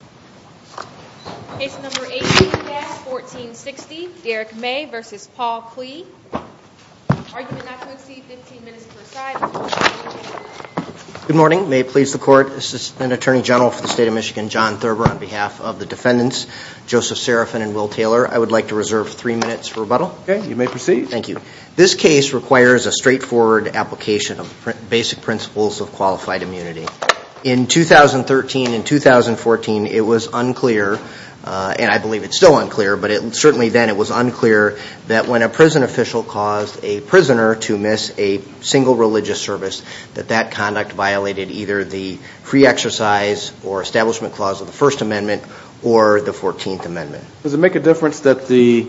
Good morning. May it please the court, Assistant Attorney General for the State of Michigan, John Thurber, on behalf of the defendants, Joseph Serafin and Will Taylor, I would like to reserve three minutes for rebuttal. Okay, you may proceed. Thank you. This case requires a straightforward application of basic principles of qualified immunity. In 2013 and 2014, it was unclear, and I believe it's still unclear, but certainly then it was unclear that when a prison official caused a prisoner to miss a single religious service, that that conduct violated either the free exercise or establishment clause of the First Amendment or the Fourteenth Amendment. Does it make a difference that the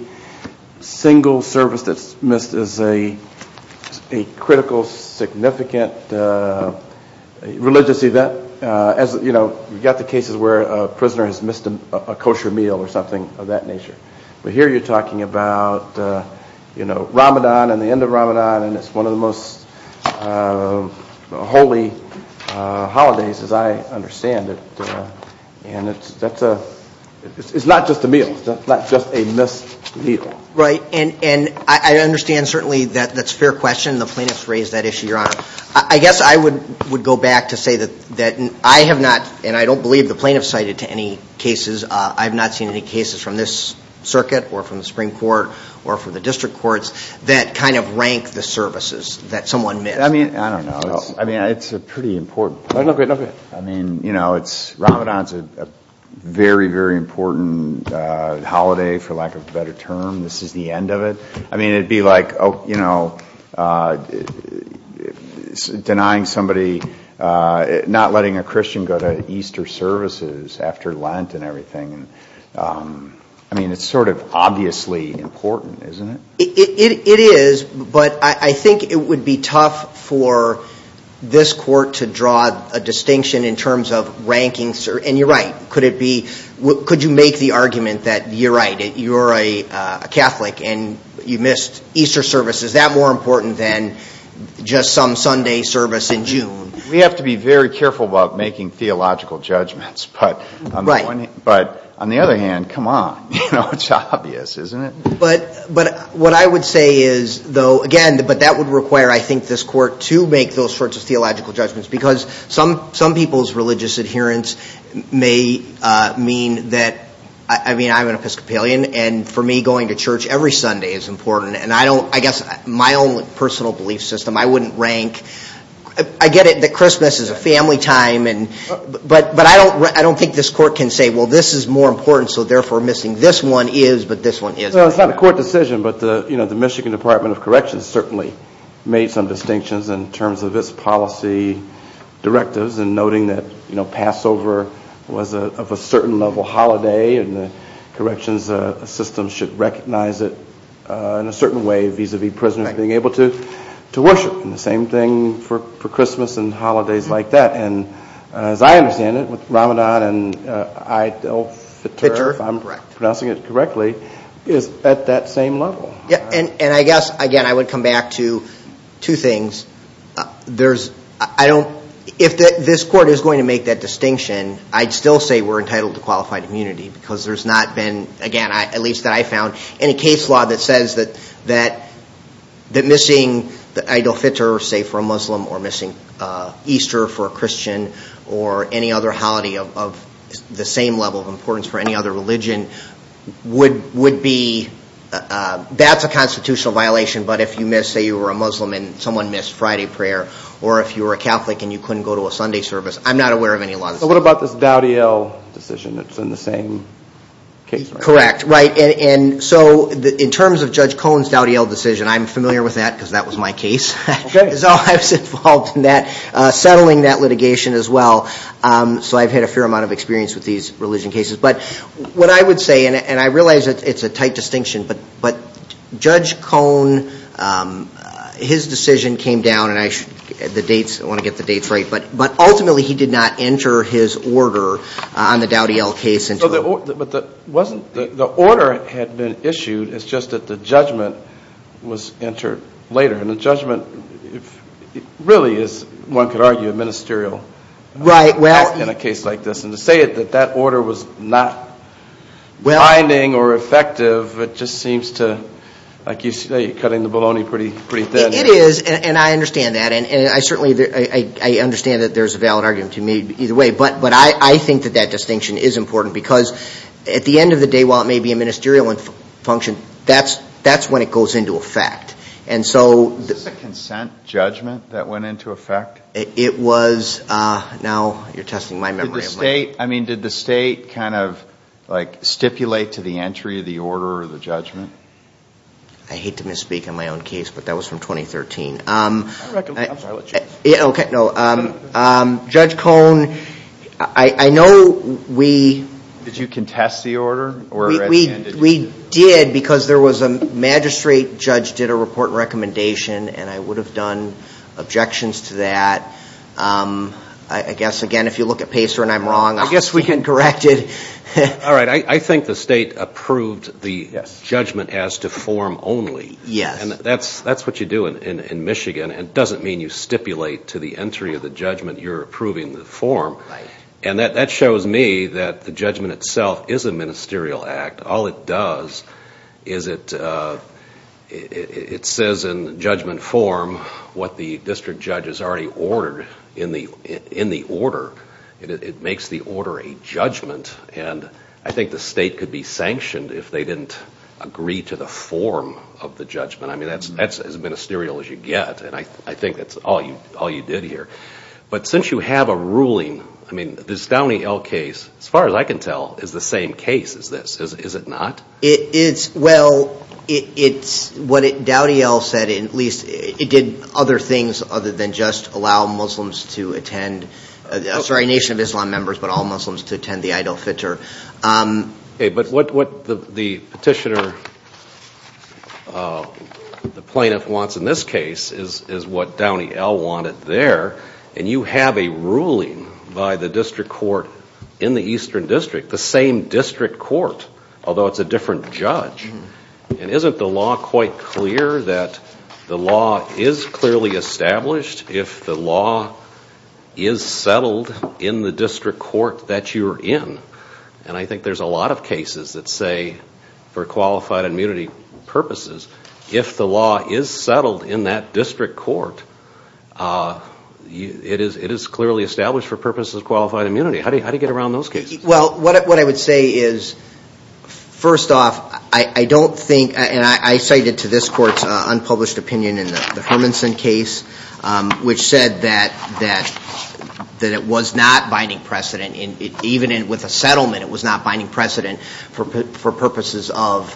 single service that's missed is a critical, significant religious event? You've got the cases where a prisoner has missed a kosher meal or something of that nature. But here you're talking about Ramadan and the end of Ramadan, and it's one of the most holy holidays as I understand it. And it's not just a meal. It's not just a missed meal. Right. And I understand certainly that that's a fair question. The plaintiffs raised that issue, Your Honor. I guess I would go back to say that I have not, and I don't believe the plaintiffs cited to any cases, I've not seen any cases from this circuit or from the Supreme Court or from the district courts that kind of rank the services that someone missed. I mean, I don't know. I mean, it's a pretty important point. No, go ahead. I mean, you know, Ramadan's a very, very important holiday, for lack of a better term. This is the end of it. I mean, it would be like, you know, denying somebody, not letting a Christian go to Easter services after Lent and everything. I mean, it's sort of obviously important, isn't it? It is, but I think it would be tough for this court to draw a distinction in terms of rankings. And you're right. Could you make the argument that you're right, you're a Catholic. And you missed Easter service. Is that more important than just some Sunday service in June? We have to be very careful about making theological judgments. Right. But on the other hand, come on. You know, it's obvious, isn't it? But what I would say is, though, again, but that would require, I think, this court to make those sorts of theological judgments. Because some people's religious adherence may mean that, I mean, I'm an Episcopalian. And for me, going to church every Sunday is important. And I guess my own personal belief system, I wouldn't rank. I get it that Christmas is a family time. But I don't think this court can say, well, this is more important, so therefore missing this one is, but this one isn't. So it's not a court decision, but the Michigan Department of Corrections certainly made some distinctions in terms of its policy directives and noting that Passover was of a certain level holiday and the corrections system should recognize it in a certain way vis-a-vis prisoners being able to worship. And the same thing for Christmas and holidays like that. And as I understand it, Ramadan and Eid al-Fitr, if I'm pronouncing it correctly, is at that same level. And I guess, again, I would come back to two things. If this court is going to make that distinction, I'd still say we're entitled to qualified immunity because there's not been, again, at least that I found, any case law that says that missing Eid al-Fitr, say for a Muslim, or missing Easter for a Christian, or any other holiday of the same level of importance for any other religion would be, that's a constitutional violation. But if you miss, say you were a Muslim and someone missed Friday prayer, or if you were a Catholic and you couldn't go to a Sunday service, I'm not aware of any law that says that. So what about this Dowdell decision that's in the same case? Correct, right. And so in terms of Judge Cohn's Dowdell decision, I'm familiar with that because that was my case. So I was involved in that, settling that litigation as well. So I've had a fair amount of experience with these religion cases. But what I would say, and I realize it's a tight distinction, but Judge Cohn, his decision came down, and I want to get the dates right, but ultimately he did not enter his order on the Dowdell case. So the order had been issued, it's just that the judgment was entered later. And the judgment really is, one could argue, ministerial in a case like this. And to say that that order was not binding or effective, it just seems to, like you say, you're cutting the bologna pretty thin. It is, and I understand that, and I certainly understand that there's a valid argument to me either way. But I think that that distinction is important because at the end of the day, while it may be a ministerial function, that's when it goes into effect. Is this a consent judgment that went into effect? It was, now you're testing my memory. Did the state kind of like stipulate to the entry of the order or the judgment? I hate to misspeak on my own case, but that was from 2013. I'm sorry, let's change. Okay, no. Judge Cohn, I know we... Did you contest the order? We did because there was a magistrate judge did a report recommendation, and I would have done objections to that. I guess, again, if you look at Pacer and I'm wrong, I guess we can correct it. All right, I think the state approved the judgment as to form only. Yes. That's what you do in Michigan. It doesn't mean you stipulate to the entry of the judgment you're approving the form. Right. And that shows me that the judgment itself is a ministerial act. All it does is it says in judgment form what the district judge has already ordered in the order. It makes the order a judgment, and I think the state could be sanctioned if they didn't agree to the form of the judgment. I mean, that's as ministerial as you get, and I think that's all you did here. But since you have a ruling, I mean, this Dowdyell case, as far as I can tell, is the same case as this, is it not? Well, it's what Dowdyell said, at least it did other things other than just allow Muslims to attend. Sorry, Nation of Islam members, but all Muslims to attend the Eid al-Fitr. But what the petitioner, the plaintiff wants in this case is what Dowdyell wanted there, and you have a ruling by the district court in the Eastern District, the same district court, although it's a different judge. And isn't the law quite clear that the law is clearly established if the law is settled in the district court that you're in? And I think there's a lot of cases that say, for qualified immunity purposes, if the law is settled in that district court, it is clearly established for purposes of qualified immunity. How do you get around those cases? Well, what I would say is, first off, I don't think, and I cited to this court's unpublished opinion in the Hermanson case, which said that it was not binding precedent, even with a settlement it was not binding precedent for purposes of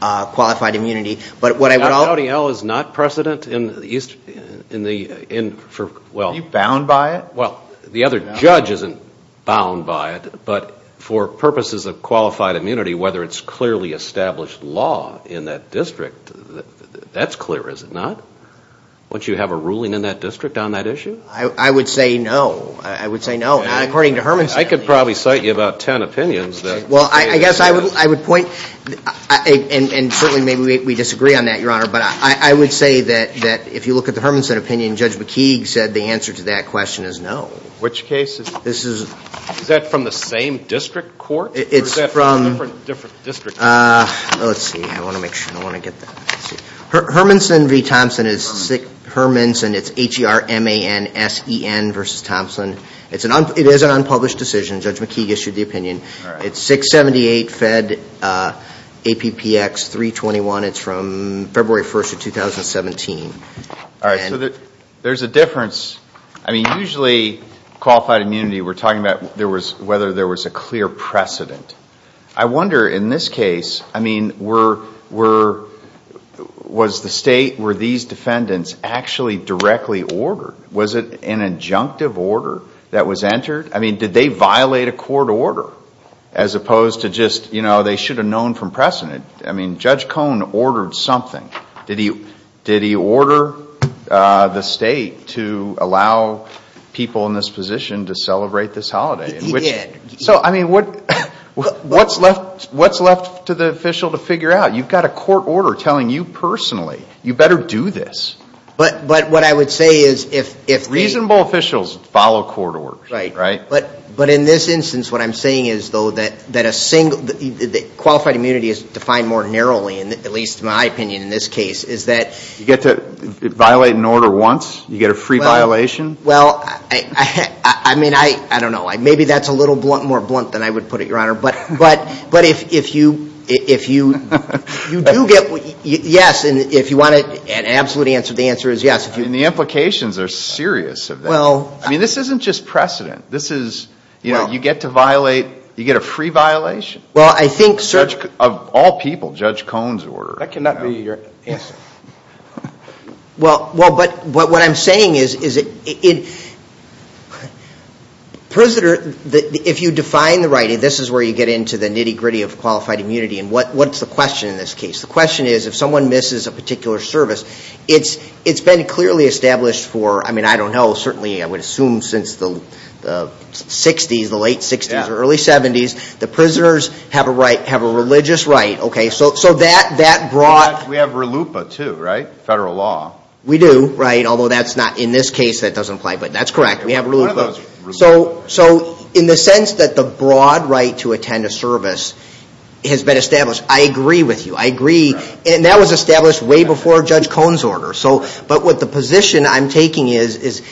qualified immunity. But what I would also say is that Dowdyell is not precedent in the Eastern District. Are you bound by it? Well, the other judge isn't bound by it, but for purposes of qualified immunity, whether it's clearly established law in that district, that's clear, is it not? Don't you have a ruling in that district on that issue? I would say no. I would say no, not according to Hermanson. I could probably cite you about ten opinions. Well, I guess I would point, and certainly maybe we disagree on that, Your Honor, but I would say that if you look at the Hermanson opinion, Judge McKeague said the answer to that question is no. Which case is it? Is that from the same district court or is that from different district courts? Let's see. I want to make sure. I want to get that. Hermanson v. Thompson is Hermanson. It's H-E-R-M-A-N-S-E-N versus Thompson. It is an unpublished decision. Judge McKeague issued the opinion. It's 678 Fed APPX 321. It's from February 1st of 2017. All right. So there's a difference. I mean, usually qualified immunity, we're talking about whether there was a clear precedent. I wonder in this case, I mean, was the state where these defendants actually directly ordered? Was it an injunctive order that was entered? I mean, did they violate a court order as opposed to just, you know, they should have known from precedent? I mean, Judge Cohn ordered something. Did he order the state to allow people in this position to celebrate this holiday? He did. So, I mean, what's left to the official to figure out? You've got a court order telling you personally you better do this. But what I would say is if the – But in this instance, what I'm saying is, though, that qualified immunity is defined more narrowly, at least in my opinion in this case, is that – You get to violate an order once? You get a free violation? Well, I mean, I don't know. Maybe that's a little more blunt than I would put it, Your Honor. But if you do get – yes, and if you want an absolute answer, the answer is yes. And the implications are serious of that. I mean, this isn't just precedent. This is – you know, you get to violate – you get a free violation? Well, I think, sir – Of all people, Judge Cohn's order. That cannot be your answer. Well, but what I'm saying is it – President, if you define the right, this is where you get into the nitty-gritty of qualified immunity, and what's the question in this case? The question is if someone misses a particular service, it's been clearly established for, I mean, I don't know, certainly I would assume since the 60s, the late 60s or early 70s, the prisoners have a religious right. So that brought – We have RLUIPA too, right, federal law. We do, right, although that's not – in this case that doesn't apply, but that's correct. We have RLUIPA. So in the sense that the broad right to attend a service has been established, I agree with you. I agree. And that was established way before Judge Cohn's order. But what the position I'm taking is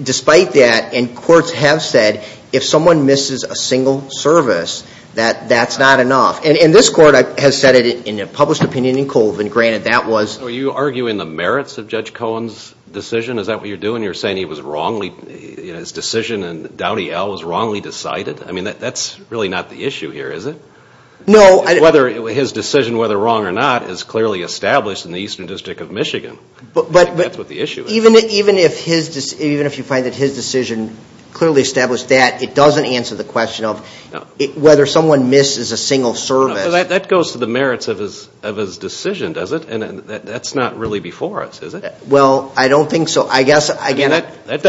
despite that, and courts have said, if someone misses a single service, that that's not enough. And this court has said it in a published opinion in Colvin. Granted, that was – Are you arguing the merits of Judge Cohn's decision? Is that what you're doing? You're saying he was wrongly – his decision in Downey L. was wrongly decided? I mean, that's really not the issue here, is it? Whether his decision, whether wrong or not, is clearly established in the Eastern District of Michigan. I think that's what the issue is. Even if you find that his decision clearly established that, it doesn't answer the question of whether someone misses a single service. That goes to the merits of his decision, does it? And that's not really before us, is it? Well, I don't think so. I guess, again – That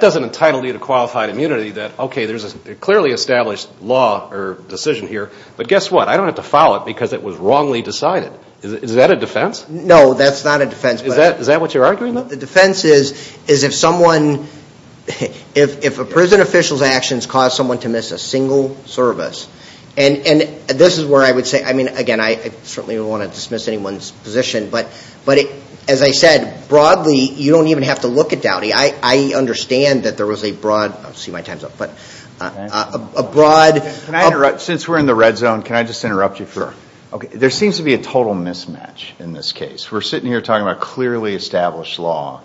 doesn't entitle you to qualified immunity that, okay, there's a clearly established law or decision here. But guess what? I don't have to file it because it was wrongly decided. Is that a defense? No, that's not a defense. Is that what you're arguing, though? The defense is if someone – if a prison official's actions cause someone to miss a single service. And this is where I would say – I mean, again, I certainly wouldn't want to dismiss anyone's position. But as I said, broadly, you don't even have to look at Downey. I understand that there was a broad – I don't see my time's up, but a broad – Can I interrupt? Since we're in the red zone, can I just interrupt you for – Sure. Okay. There seems to be a total mismatch in this case. We're sitting here talking about clearly established law.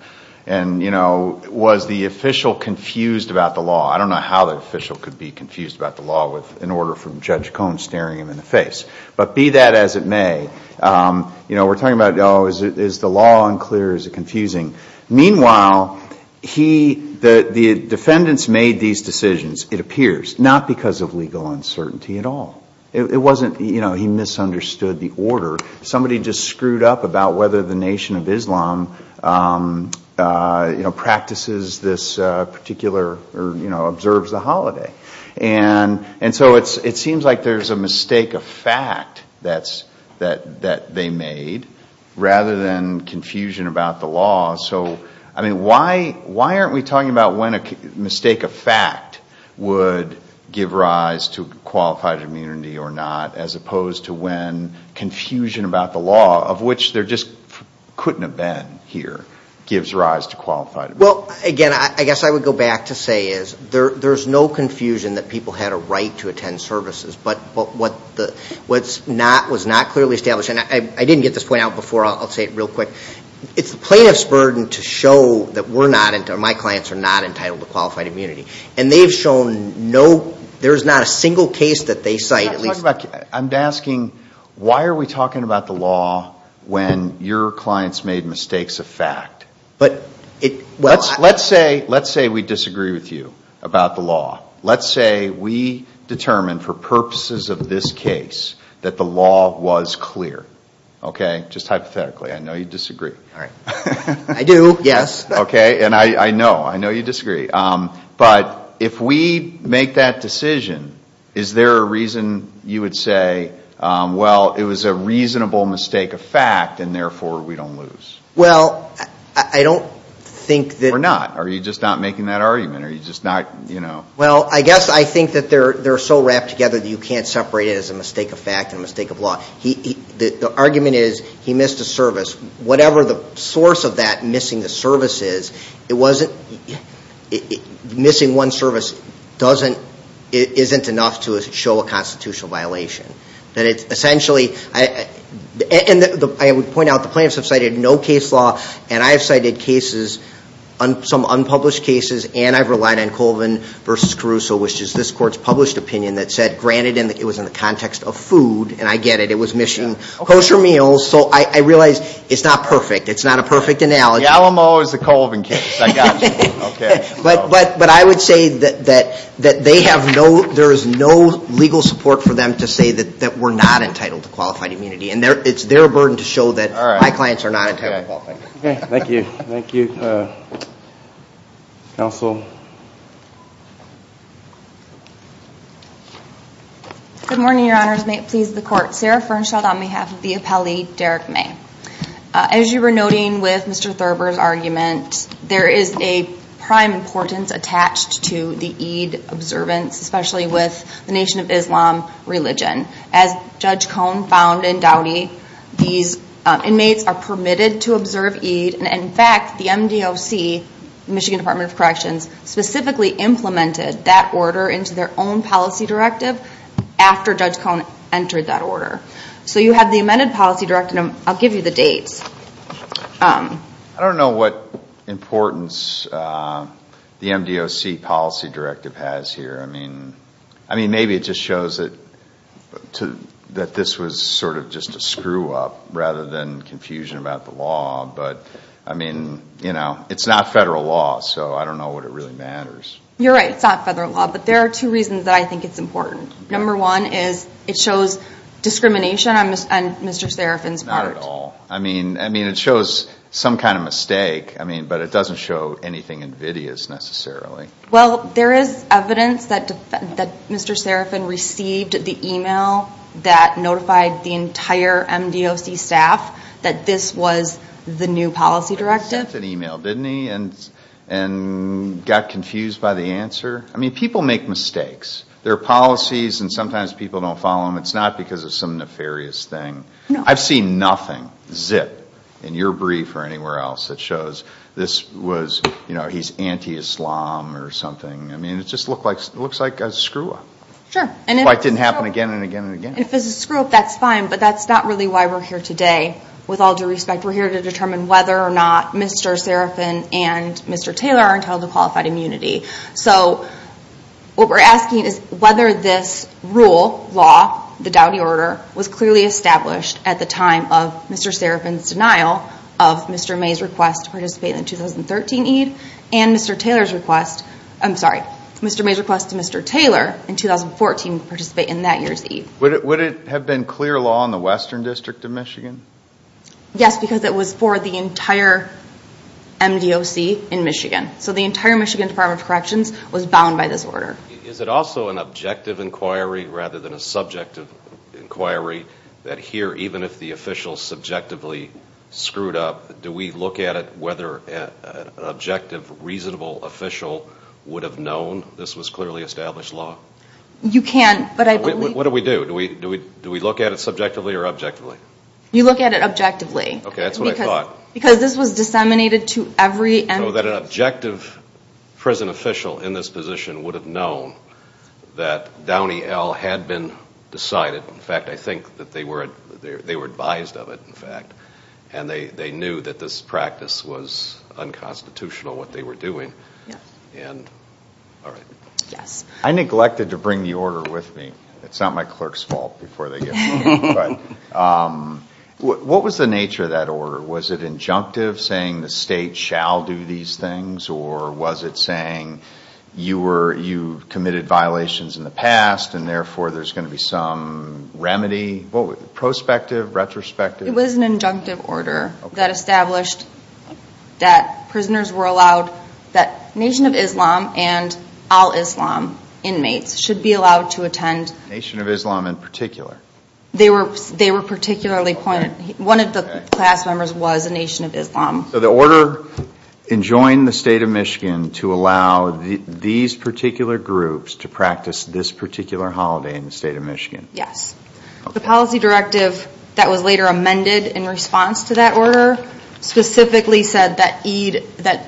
And, you know, was the official confused about the law? I don't know how the official could be confused about the law in order from Judge Cohn staring him in the face. But be that as it may, you know, we're talking about, oh, is the law unclear, is it confusing? Meanwhile, he – the defendants made these decisions, it appears, not because of legal uncertainty at all. It wasn't, you know, he misunderstood the order. Somebody just screwed up about whether the Nation of Islam, you know, practices this particular – or, you know, observes the holiday. And so it seems like there's a mistake of fact that they made rather than confusion about the law. So, I mean, why aren't we talking about when a mistake of fact would give rise to qualified immunity or not, as opposed to when confusion about the law, of which there just couldn't have been here, gives rise to qualified immunity? Well, again, I guess I would go back to say is there's no confusion that people had a right to attend services. But what's not – was not clearly established – and I didn't get this point out before, I'll say it real quick. It's the plaintiff's burden to show that we're not – or my clients are not entitled to qualified immunity. And they've shown no – there's not a single case that they cite at least – I'm talking about – I'm asking why are we talking about the law when your clients made mistakes of fact? But – Let's say we disagree with you about the law. Let's say we determine for purposes of this case that the law was clear. Okay? Just hypothetically. I know you disagree. All right. I do, yes. Okay? And I know. I know you disagree. But if we make that decision, is there a reason you would say, well, it was a reasonable mistake of fact and therefore we don't lose? Well, I don't think that – Or not. Are you just not making that argument? Well, I guess I think that they're so wrapped together that you can't separate it as a mistake of fact and a mistake of law. The argument is he missed a service. Whatever the source of that missing a service is, it wasn't – missing one service isn't enough to show a constitutional violation. That it's essentially – and I would point out the plaintiffs have cited no case law, and I have cited cases, some unpublished cases, and I've relied on Colvin v. Caruso, which is this court's published opinion, that said, granted it was in the context of food, and I get it, it was missing kosher meals. So I realize it's not perfect. It's not a perfect analogy. The Alamo is the Colvin case. I got you. Okay. But I would say that they have no – there is no legal support for them to say that we're not entitled to qualified immunity. And it's their burden to show that my clients are not entitled to qualified immunity. Okay. Thank you. Thank you, Counsel. Good morning, Your Honors. May it please the Court. Sarah Fernshild on behalf of the appellee, Derek May. As you were noting with Mr. Thurber's argument, there is a prime importance attached to the Eid observance, especially with the Nation of Islam religion. As Judge Cohn found in Dowdy, these inmates are permitted to observe Eid, and, in fact, the MDOC, Michigan Department of Corrections, specifically implemented that order into their own policy directive after Judge Cohn entered that order. So you have the amended policy directive, and I'll give you the dates. I don't know what importance the MDOC policy directive has here. I mean, maybe it just shows that this was sort of just a screw-up rather than confusion about the law. But, I mean, you know, it's not federal law, so I don't know what it really matters. You're right. It's not federal law. But there are two reasons that I think it's important. Number one is it shows discrimination on Mr. Serafin's part. Not at all. I mean, it shows some kind of mistake, but it doesn't show anything invidious necessarily. Well, there is evidence that Mr. Serafin received the email that notified the entire MDOC staff that this was the new policy directive. He sent an email, didn't he, and got confused by the answer? I mean, people make mistakes. There are policies, and sometimes people don't follow them. It's not because of some nefarious thing. I've seen nothing zip in your brief or anywhere else that shows this was, you know, he's anti-Islam or something. I mean, it just looks like a screw-up. Sure. That's why it didn't happen again and again and again. If it's a screw-up, that's fine, but that's not really why we're here today. With all due respect, we're here to determine whether or not Mr. Serafin and Mr. Taylor are entitled to qualified immunity. So what we're asking is whether this rule, law, the Dowdy Order, was clearly established at the time of Mr. Serafin's denial of Mr. May's request to participate in the 2013 EID and Mr. Taylor's request to Mr. Taylor in 2014 to participate in that year's EID. Would it have been clear law in the Western District of Michigan? Yes, because it was for the entire MDOC in Michigan. So the entire Michigan Department of Corrections was bound by this order. Is it also an objective inquiry rather than a subjective inquiry, that here even if the official subjectively screwed up, do we look at it whether an objective, reasonable official would have known this was clearly established law? You can, but I believe... What do we do? Do we look at it subjectively or objectively? You look at it objectively. Okay, that's what I thought. Because this was disseminated to every MDOC. So that an objective prison official in this position would have known that Downey L. had been decided. In fact, I think that they were advised of it, in fact, and they knew that this practice was unconstitutional, what they were doing. All right. Yes. I neglected to bring the order with me. It's not my clerk's fault before they give it to me. What was the nature of that order? Was it injunctive, saying the state shall do these things, or was it saying you committed violations in the past, and therefore there's going to be some remedy? Prospective? Retrospective? It was an injunctive order that established that prisoners were allowed that Nation of Islam and Al-Islam inmates should be allowed to attend. Nation of Islam in particular? They were particularly pointed. One of the class members was a Nation of Islam. So the order enjoined the state of Michigan to allow these particular groups to practice this particular holiday in the state of Michigan? Yes. The policy directive that was later amended in response to that order specifically said that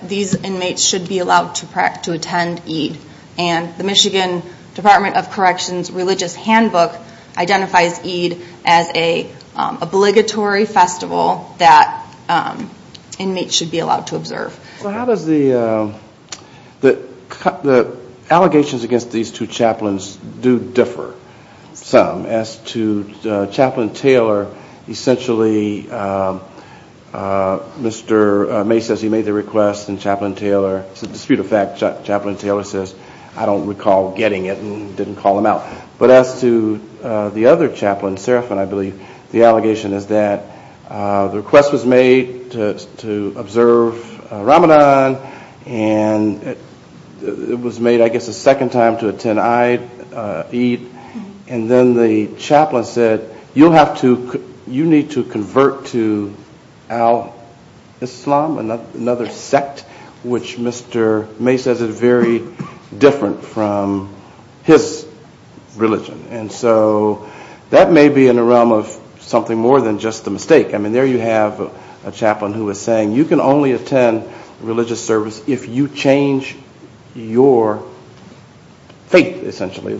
these inmates should be allowed to attend Eid, and the Michigan Department of Corrections Religious Handbook identifies Eid as an obligatory festival that inmates should be allowed to observe. So how does the allegations against these two chaplains do differ some As to Chaplain Taylor, essentially Mr. May says he made the request, and Chaplain Taylor, it's a dispute of fact, Chaplain Taylor says, I don't recall getting it and didn't call him out. But as to the other chaplain, Serafin, I believe, the allegation is that the request was made to observe Ramadan, and it was made I guess a second time to attend Eid, and then the chaplain said you need to convert to Al-Islam, another sect, which Mr. May says is very different from his religion. And so that may be in the realm of something more than just a mistake. I mean there you have a chaplain who is saying you can only attend religious service if you change your faith, essentially.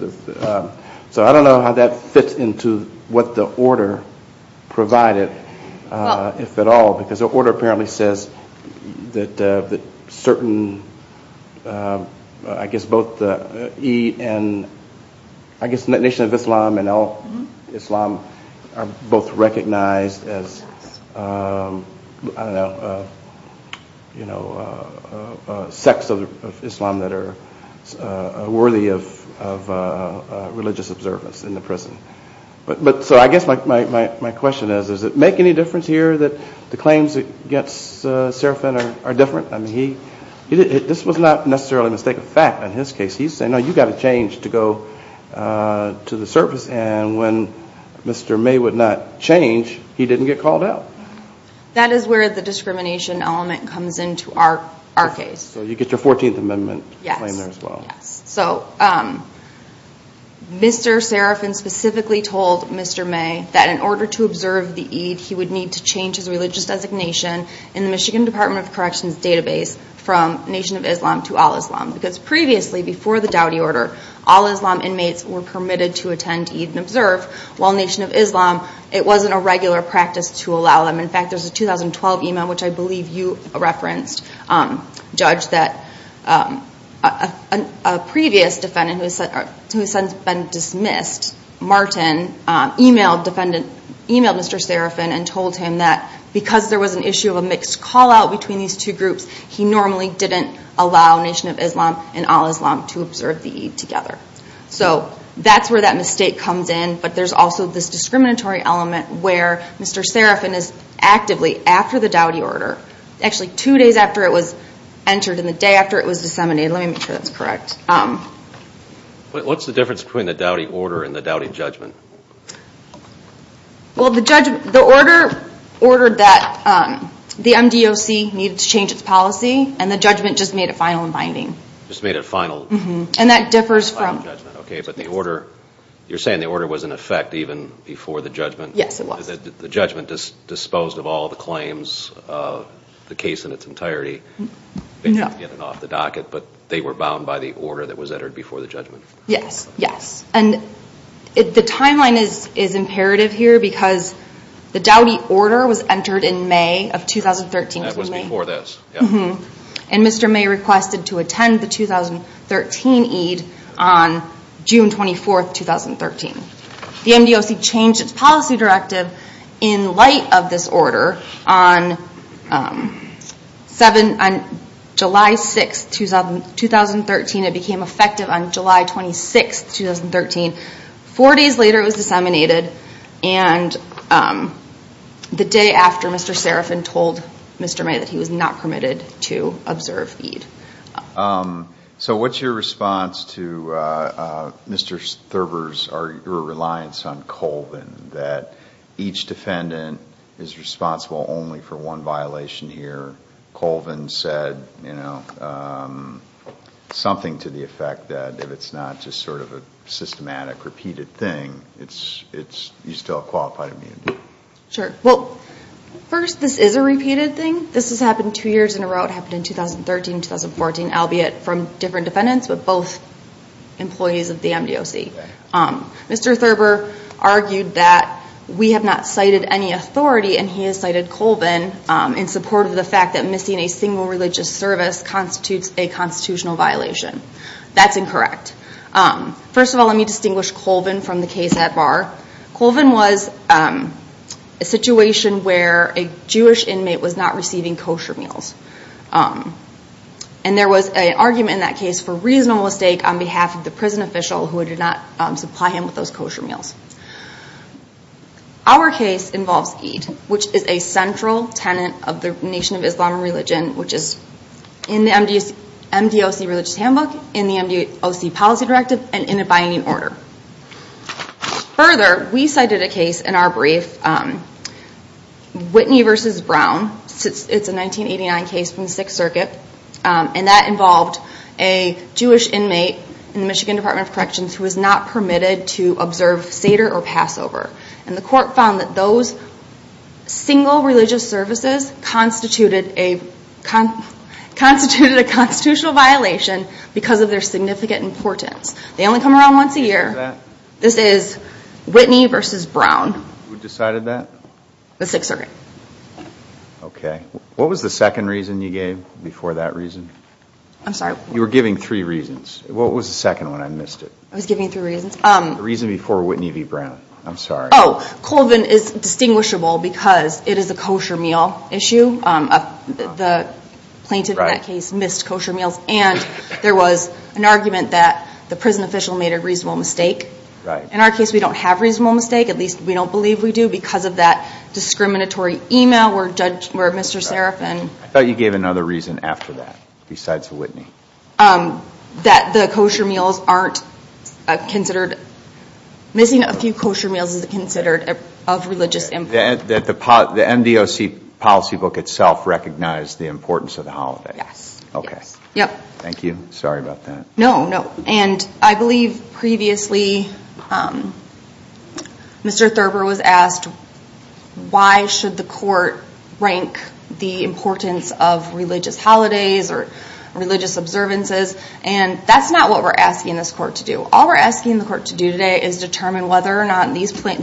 So I don't know how that fits into what the order provided, if at all, because the order apparently says that certain, I guess both Eid, and I guess Nation of Islam and Al-Islam are both recognized as sects of Islam that are worthy of religious observance in the prison. So I guess my question is, does it make any difference here that the claims against Serafin are different? I mean this was not necessarily a mistake of fact in his case. He's saying, no, you've got to change to go to the service, and when Mr. May would not change, he didn't get called out. That is where the discrimination element comes into our case. So you get your 14th Amendment claim there as well. Yes. So Mr. Serafin specifically told Mr. May that in order to observe the Eid, he would need to change his religious designation in the Michigan Department of Corrections database from Nation of Islam to Al-Islam. Because previously, before the Dowdy Order, Al-Islam inmates were permitted to attend Eid and observe, while Nation of Islam, it wasn't a regular practice to allow them. In fact, there's a 2012 email which I believe you referenced, Judge, that a previous defendant who has since been dismissed, Martin, emailed Mr. Serafin and told him that because there was an issue of a mixed callout between these two groups, he normally didn't allow Nation of Islam and Al-Islam to observe the Eid together. So that's where that mistake comes in, but there's also this discriminatory element where Mr. Serafin is actively, after the Dowdy Order, actually two days after it was entered and the day after it was disseminated, let me make sure that's correct. What's the difference between the Dowdy Order and the Dowdy Judgment? Well, the order ordered that the MDOC needed to change its policy, and the judgment just made it final and binding. Just made it final? Mm-hmm. And that differs from... Okay, but the order, you're saying the order was in effect even before the judgment? Yes, it was. The judgment disposed of all the claims, the case in its entirety, basically getting it off the docket, but they were bound by the order that was entered before the judgment? Yes, yes. And the timeline is imperative here because the Dowdy Order was entered in May of 2013. That was before this. Mm-hmm. And Mr. May requested to attend the 2013 Eid on June 24th, 2013. The MDOC changed its policy directive in light of this order on July 6th, 2013. It became effective on July 26th, 2013. Four days later it was disseminated, and the day after Mr. Serafin told Mr. May that he was not permitted to observe Eid. So what's your response to Mr. Thurber's or your reliance on Colvin, that each defendant is responsible only for one violation here? Colvin said something to the effect that if it's not just sort of a systematic, repeated thing, you still have qualified immunity. Sure. Well, first, this is a repeated thing. This has happened two years in a row. It happened in 2013, 2014, albeit from different defendants, but both employees of the MDOC. Mr. Thurber argued that we have not cited any authority, and he has cited Colvin in support of the fact that missing a single religious service constitutes a constitutional violation. That's incorrect. First of all, let me distinguish Colvin from the case at bar. Colvin was a situation where a Jewish inmate was not receiving kosher meals. And there was an argument in that case for reasonable mistake on behalf of the prison official who did not supply him with those kosher meals. Our case involves Eid, which is a central tenet of the Nation of Islam and Religion, which is in the MDOC religious handbook, in the MDOC policy directive, and in abiding order. Further, we cited a case in our brief, Whitney v. Brown. It's a 1989 case from the Sixth Circuit, and that involved a Jewish inmate in the Michigan Department of Corrections who was not permitted to observe Seder or Passover. And the court found that those single religious services constituted a constitutional violation because of their significant importance. They only come around once a year. This is Whitney v. Brown. Who decided that? The Sixth Circuit. Okay. What was the second reason you gave before that reason? I'm sorry? You were giving three reasons. What was the second one? I missed it. I was giving three reasons. The reason before Whitney v. Brown. I'm sorry. Oh, Colvin is distinguishable because it is a kosher meal issue. The plaintiff in that case missed kosher meals, and there was an argument that the prison official made a reasonable mistake. Right. In our case, we don't have a reasonable mistake. At least, we don't believe we do because of that discriminatory email where Mr. Serafin I thought you gave another reason after that besides Whitney. That the kosher meals aren't considered. Missing a few kosher meals isn't considered of religious importance. That the MDOC policy book itself recognized the importance of the holiday. Yes. Okay. Thank you. Sorry about that. No, no. And I believe previously Mr. Thurber was asked why should the court rank the importance of religious holidays or religious observances. And that's not what we're asking this court to do. All we're asking the court to do today is determine whether or not these that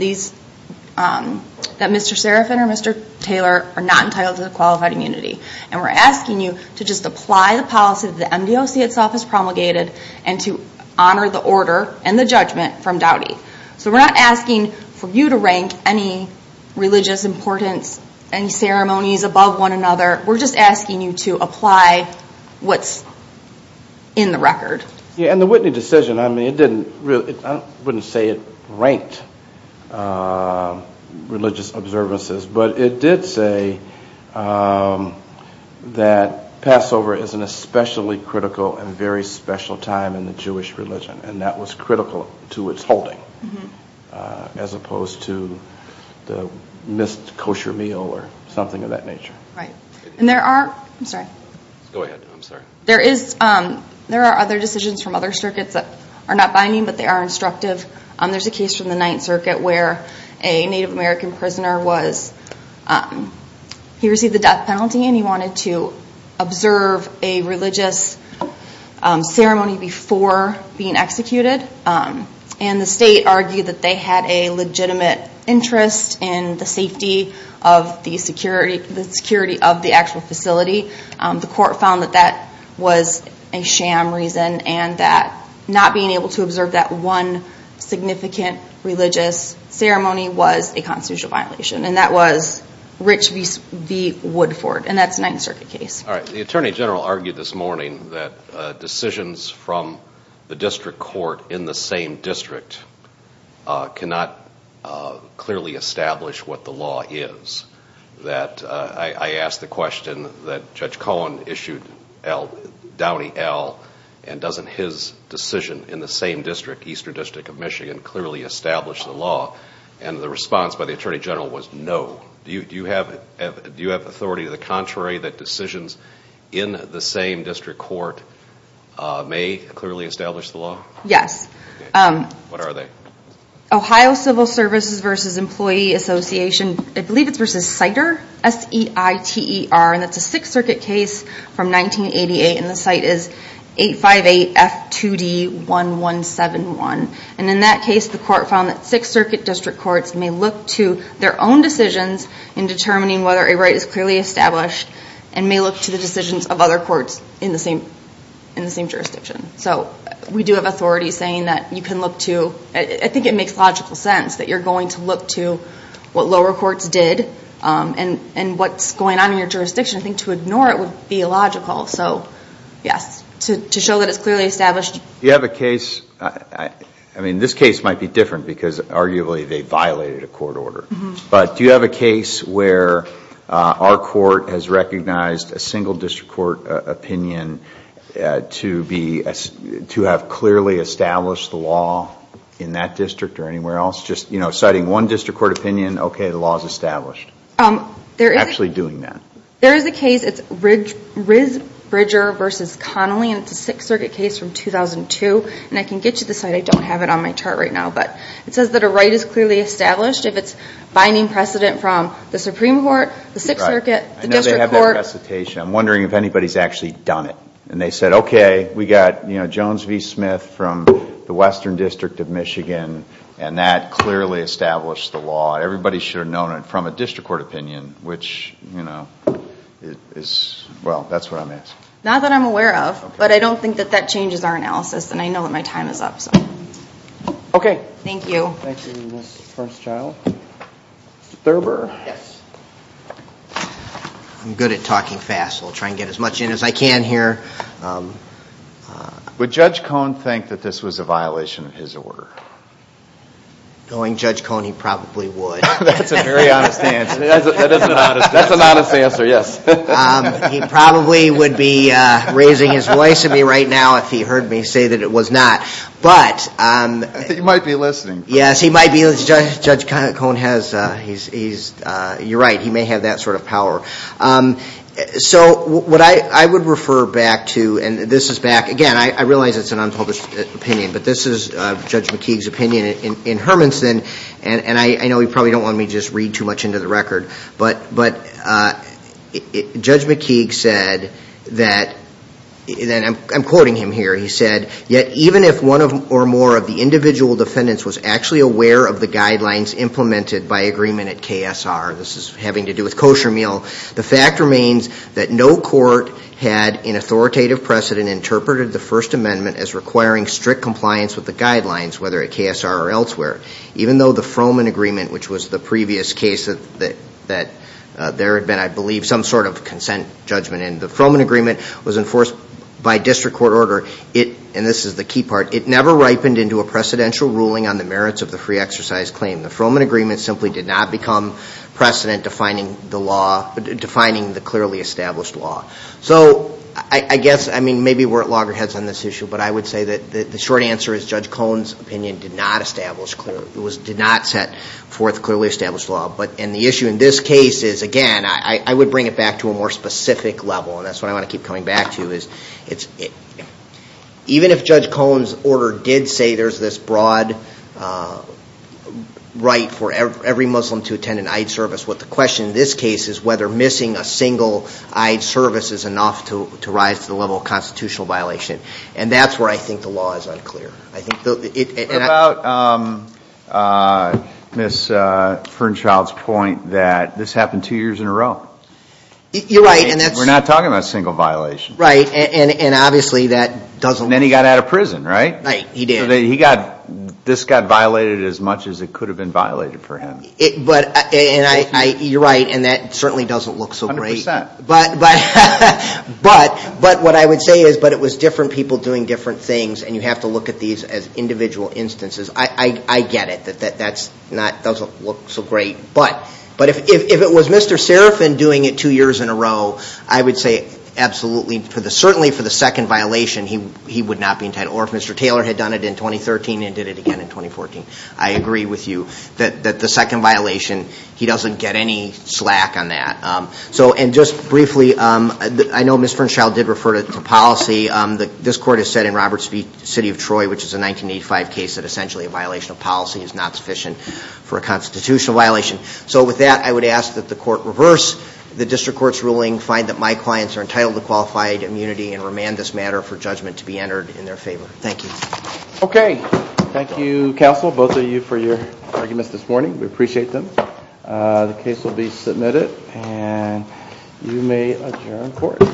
Mr. Serafin or Mr. Taylor are not entitled to the qualified immunity. And we're asking you to just apply the policy that the MDOC itself has promulgated and to honor the order and the judgment from Dowdy. So we're not asking for you to rank any religious importance and ceremonies above one another. We're just asking you to apply what's in the record. Yeah, and the Whitney decision, I mean, it didn't really, I wouldn't say it ranked religious observances. But it did say that Passover is an especially critical and very special time in the Jewish religion. And that was critical to its holding as opposed to the missed kosher meal or something of that nature. And there are, I'm sorry. Go ahead, I'm sorry. There are other decisions from other circuits that are not binding but they are instructive. There's a case from the Ninth Circuit where a Native American prisoner was, he received the death penalty and he wanted to observe a religious ceremony before being executed. And the state argued that they had a legitimate interest in the safety of the security of the actual facility. The court found that that was a sham reason and that not being able to observe that one significant religious ceremony was a constitutional violation. And that was Rich v. Woodford, and that's a Ninth Circuit case. All right, the Attorney General argued this morning that decisions from the district court in the same district cannot clearly establish what the law is. I asked the question that Judge Cohen issued Downey L. and doesn't his decision in the same district, Eastern District of Michigan, clearly establish the law. And the response by the Attorney General was no. Do you have authority to the contrary that decisions in the same district court may clearly establish the law? Yes. What are they? Ohio Civil Services v. Employee Association, I believe it's v. CITER, S-E-I-T-E-R, and that's a Sixth Circuit case from 1988. And the site is 858 F2D 1171. And in that case, the court found that Sixth Circuit district courts may look to their own decisions in determining whether a right is clearly established and may look to the decisions of other courts in the same jurisdiction. So we do have authority saying that you can look to, I think it makes logical sense, that you're going to look to what lower courts did and what's going on in your jurisdiction. I think to ignore it would be illogical. So, yes, to show that it's clearly established. Do you have a case, I mean, this case might be different because arguably they violated a court order, but do you have a case where our court has recognized a single district court opinion to have clearly established the law in that district or anywhere else? Just, you know, citing one district court opinion, okay, the law is established. Actually doing that. There is a case, it's Riz Bridger v. Connelly, and it's a Sixth Circuit case from 2002. And I can get you the site. I don't have it on my chart right now. But it says that a right is clearly established if it's binding precedent from the Supreme Court, the Sixth Circuit, the district court. I know they have that recitation. I'm wondering if anybody's actually done it. And they said, okay, we got, you know, Jones v. Smith from the Western District of Michigan, and that clearly established the law. Everybody should have known it from a district court opinion, which, you know, is, well, that's what I'm asking. Not that I'm aware of, but I don't think that that changes our analysis. And I know that my time is up, so. Okay. Thank you. Thank you, Ms. Firstchild. Mr. Thurber. Yes. I'm good at talking fast, so I'll try and get as much in as I can here. Would Judge Cohn think that this was a violation of his order? Knowing Judge Cohn, he probably would. That's a very honest answer. That is an honest answer. That's an honest answer, yes. He probably would be raising his voice at me right now if he heard me say that it was not. But. He might be listening. Yes, he might be. Judge Cohn has, he's, you're right, he may have that sort of power. So what I would refer back to, and this is back, again, I realize it's an unpublished opinion, but this is Judge McKeague's opinion in Hermanson. And I know you probably don't want me to just read too much into the record. But Judge McKeague said that, and I'm quoting him here. He said, Yet even if one or more of the individual defendants was actually aware of the guidelines implemented by agreement at KSR, this is having to do with kosher meal, the fact remains that no court had in authoritative precedent interpreted the First Amendment as requiring strict compliance with the guidelines, whether at KSR or elsewhere. Even though the Froman Agreement, which was the previous case that there had been, I believe, some sort of consent judgment in, the Froman Agreement was enforced by district court order. And this is the key part. It never ripened into a precedential ruling on the merits of the free exercise claim. The Froman Agreement simply did not become precedent defining the law, defining the clearly established law. So I guess, I mean, maybe we're at loggerheads on this issue, but I would say that the short answer is Judge Cohen's opinion did not establish clearly, did not set forth clearly established law. And the issue in this case is, again, I would bring it back to a more specific level, and that's what I want to keep coming back to, is even if Judge Cohen's order did say there's this broad right for every Muslim to attend an Eid service, what the question in this case is whether missing a single Eid service is enough to rise to the level of constitutional violation. And that's where I think the law is unclear. What about Ms. Fernchild's point that this happened two years in a row? You're right. We're not talking about a single violation. Right, and obviously that doesn't... And then he got out of prison, right? Right, he did. So this got violated as much as it could have been violated for him. You're right, and that certainly doesn't look so great. A hundred percent. But what I would say is, but it was different people doing different things, and you have to look at these as individual instances. I get it that that doesn't look so great. But if it was Mr. Serafin doing it two years in a row, I would say absolutely, certainly for the second violation he would not be entitled, or if Mr. Taylor had done it in 2013 and did it again in 2014. I agree with you that the second violation, he doesn't get any slack on that. And just briefly, I know Ms. Fernchild did refer to policy. This court has said in Roberts v. City of Troy, which is a 1985 case, that essentially a violation of policy is not sufficient for a constitutional violation. So with that, I would ask that the court reverse the district court's ruling, find that my clients are entitled to qualified immunity, and remand this matter for judgment to be entered in their favor. Thank you. Okay. Thank you, counsel, both of you, for your arguments this morning. We appreciate them. The case will be submitted, and you may adjourn court.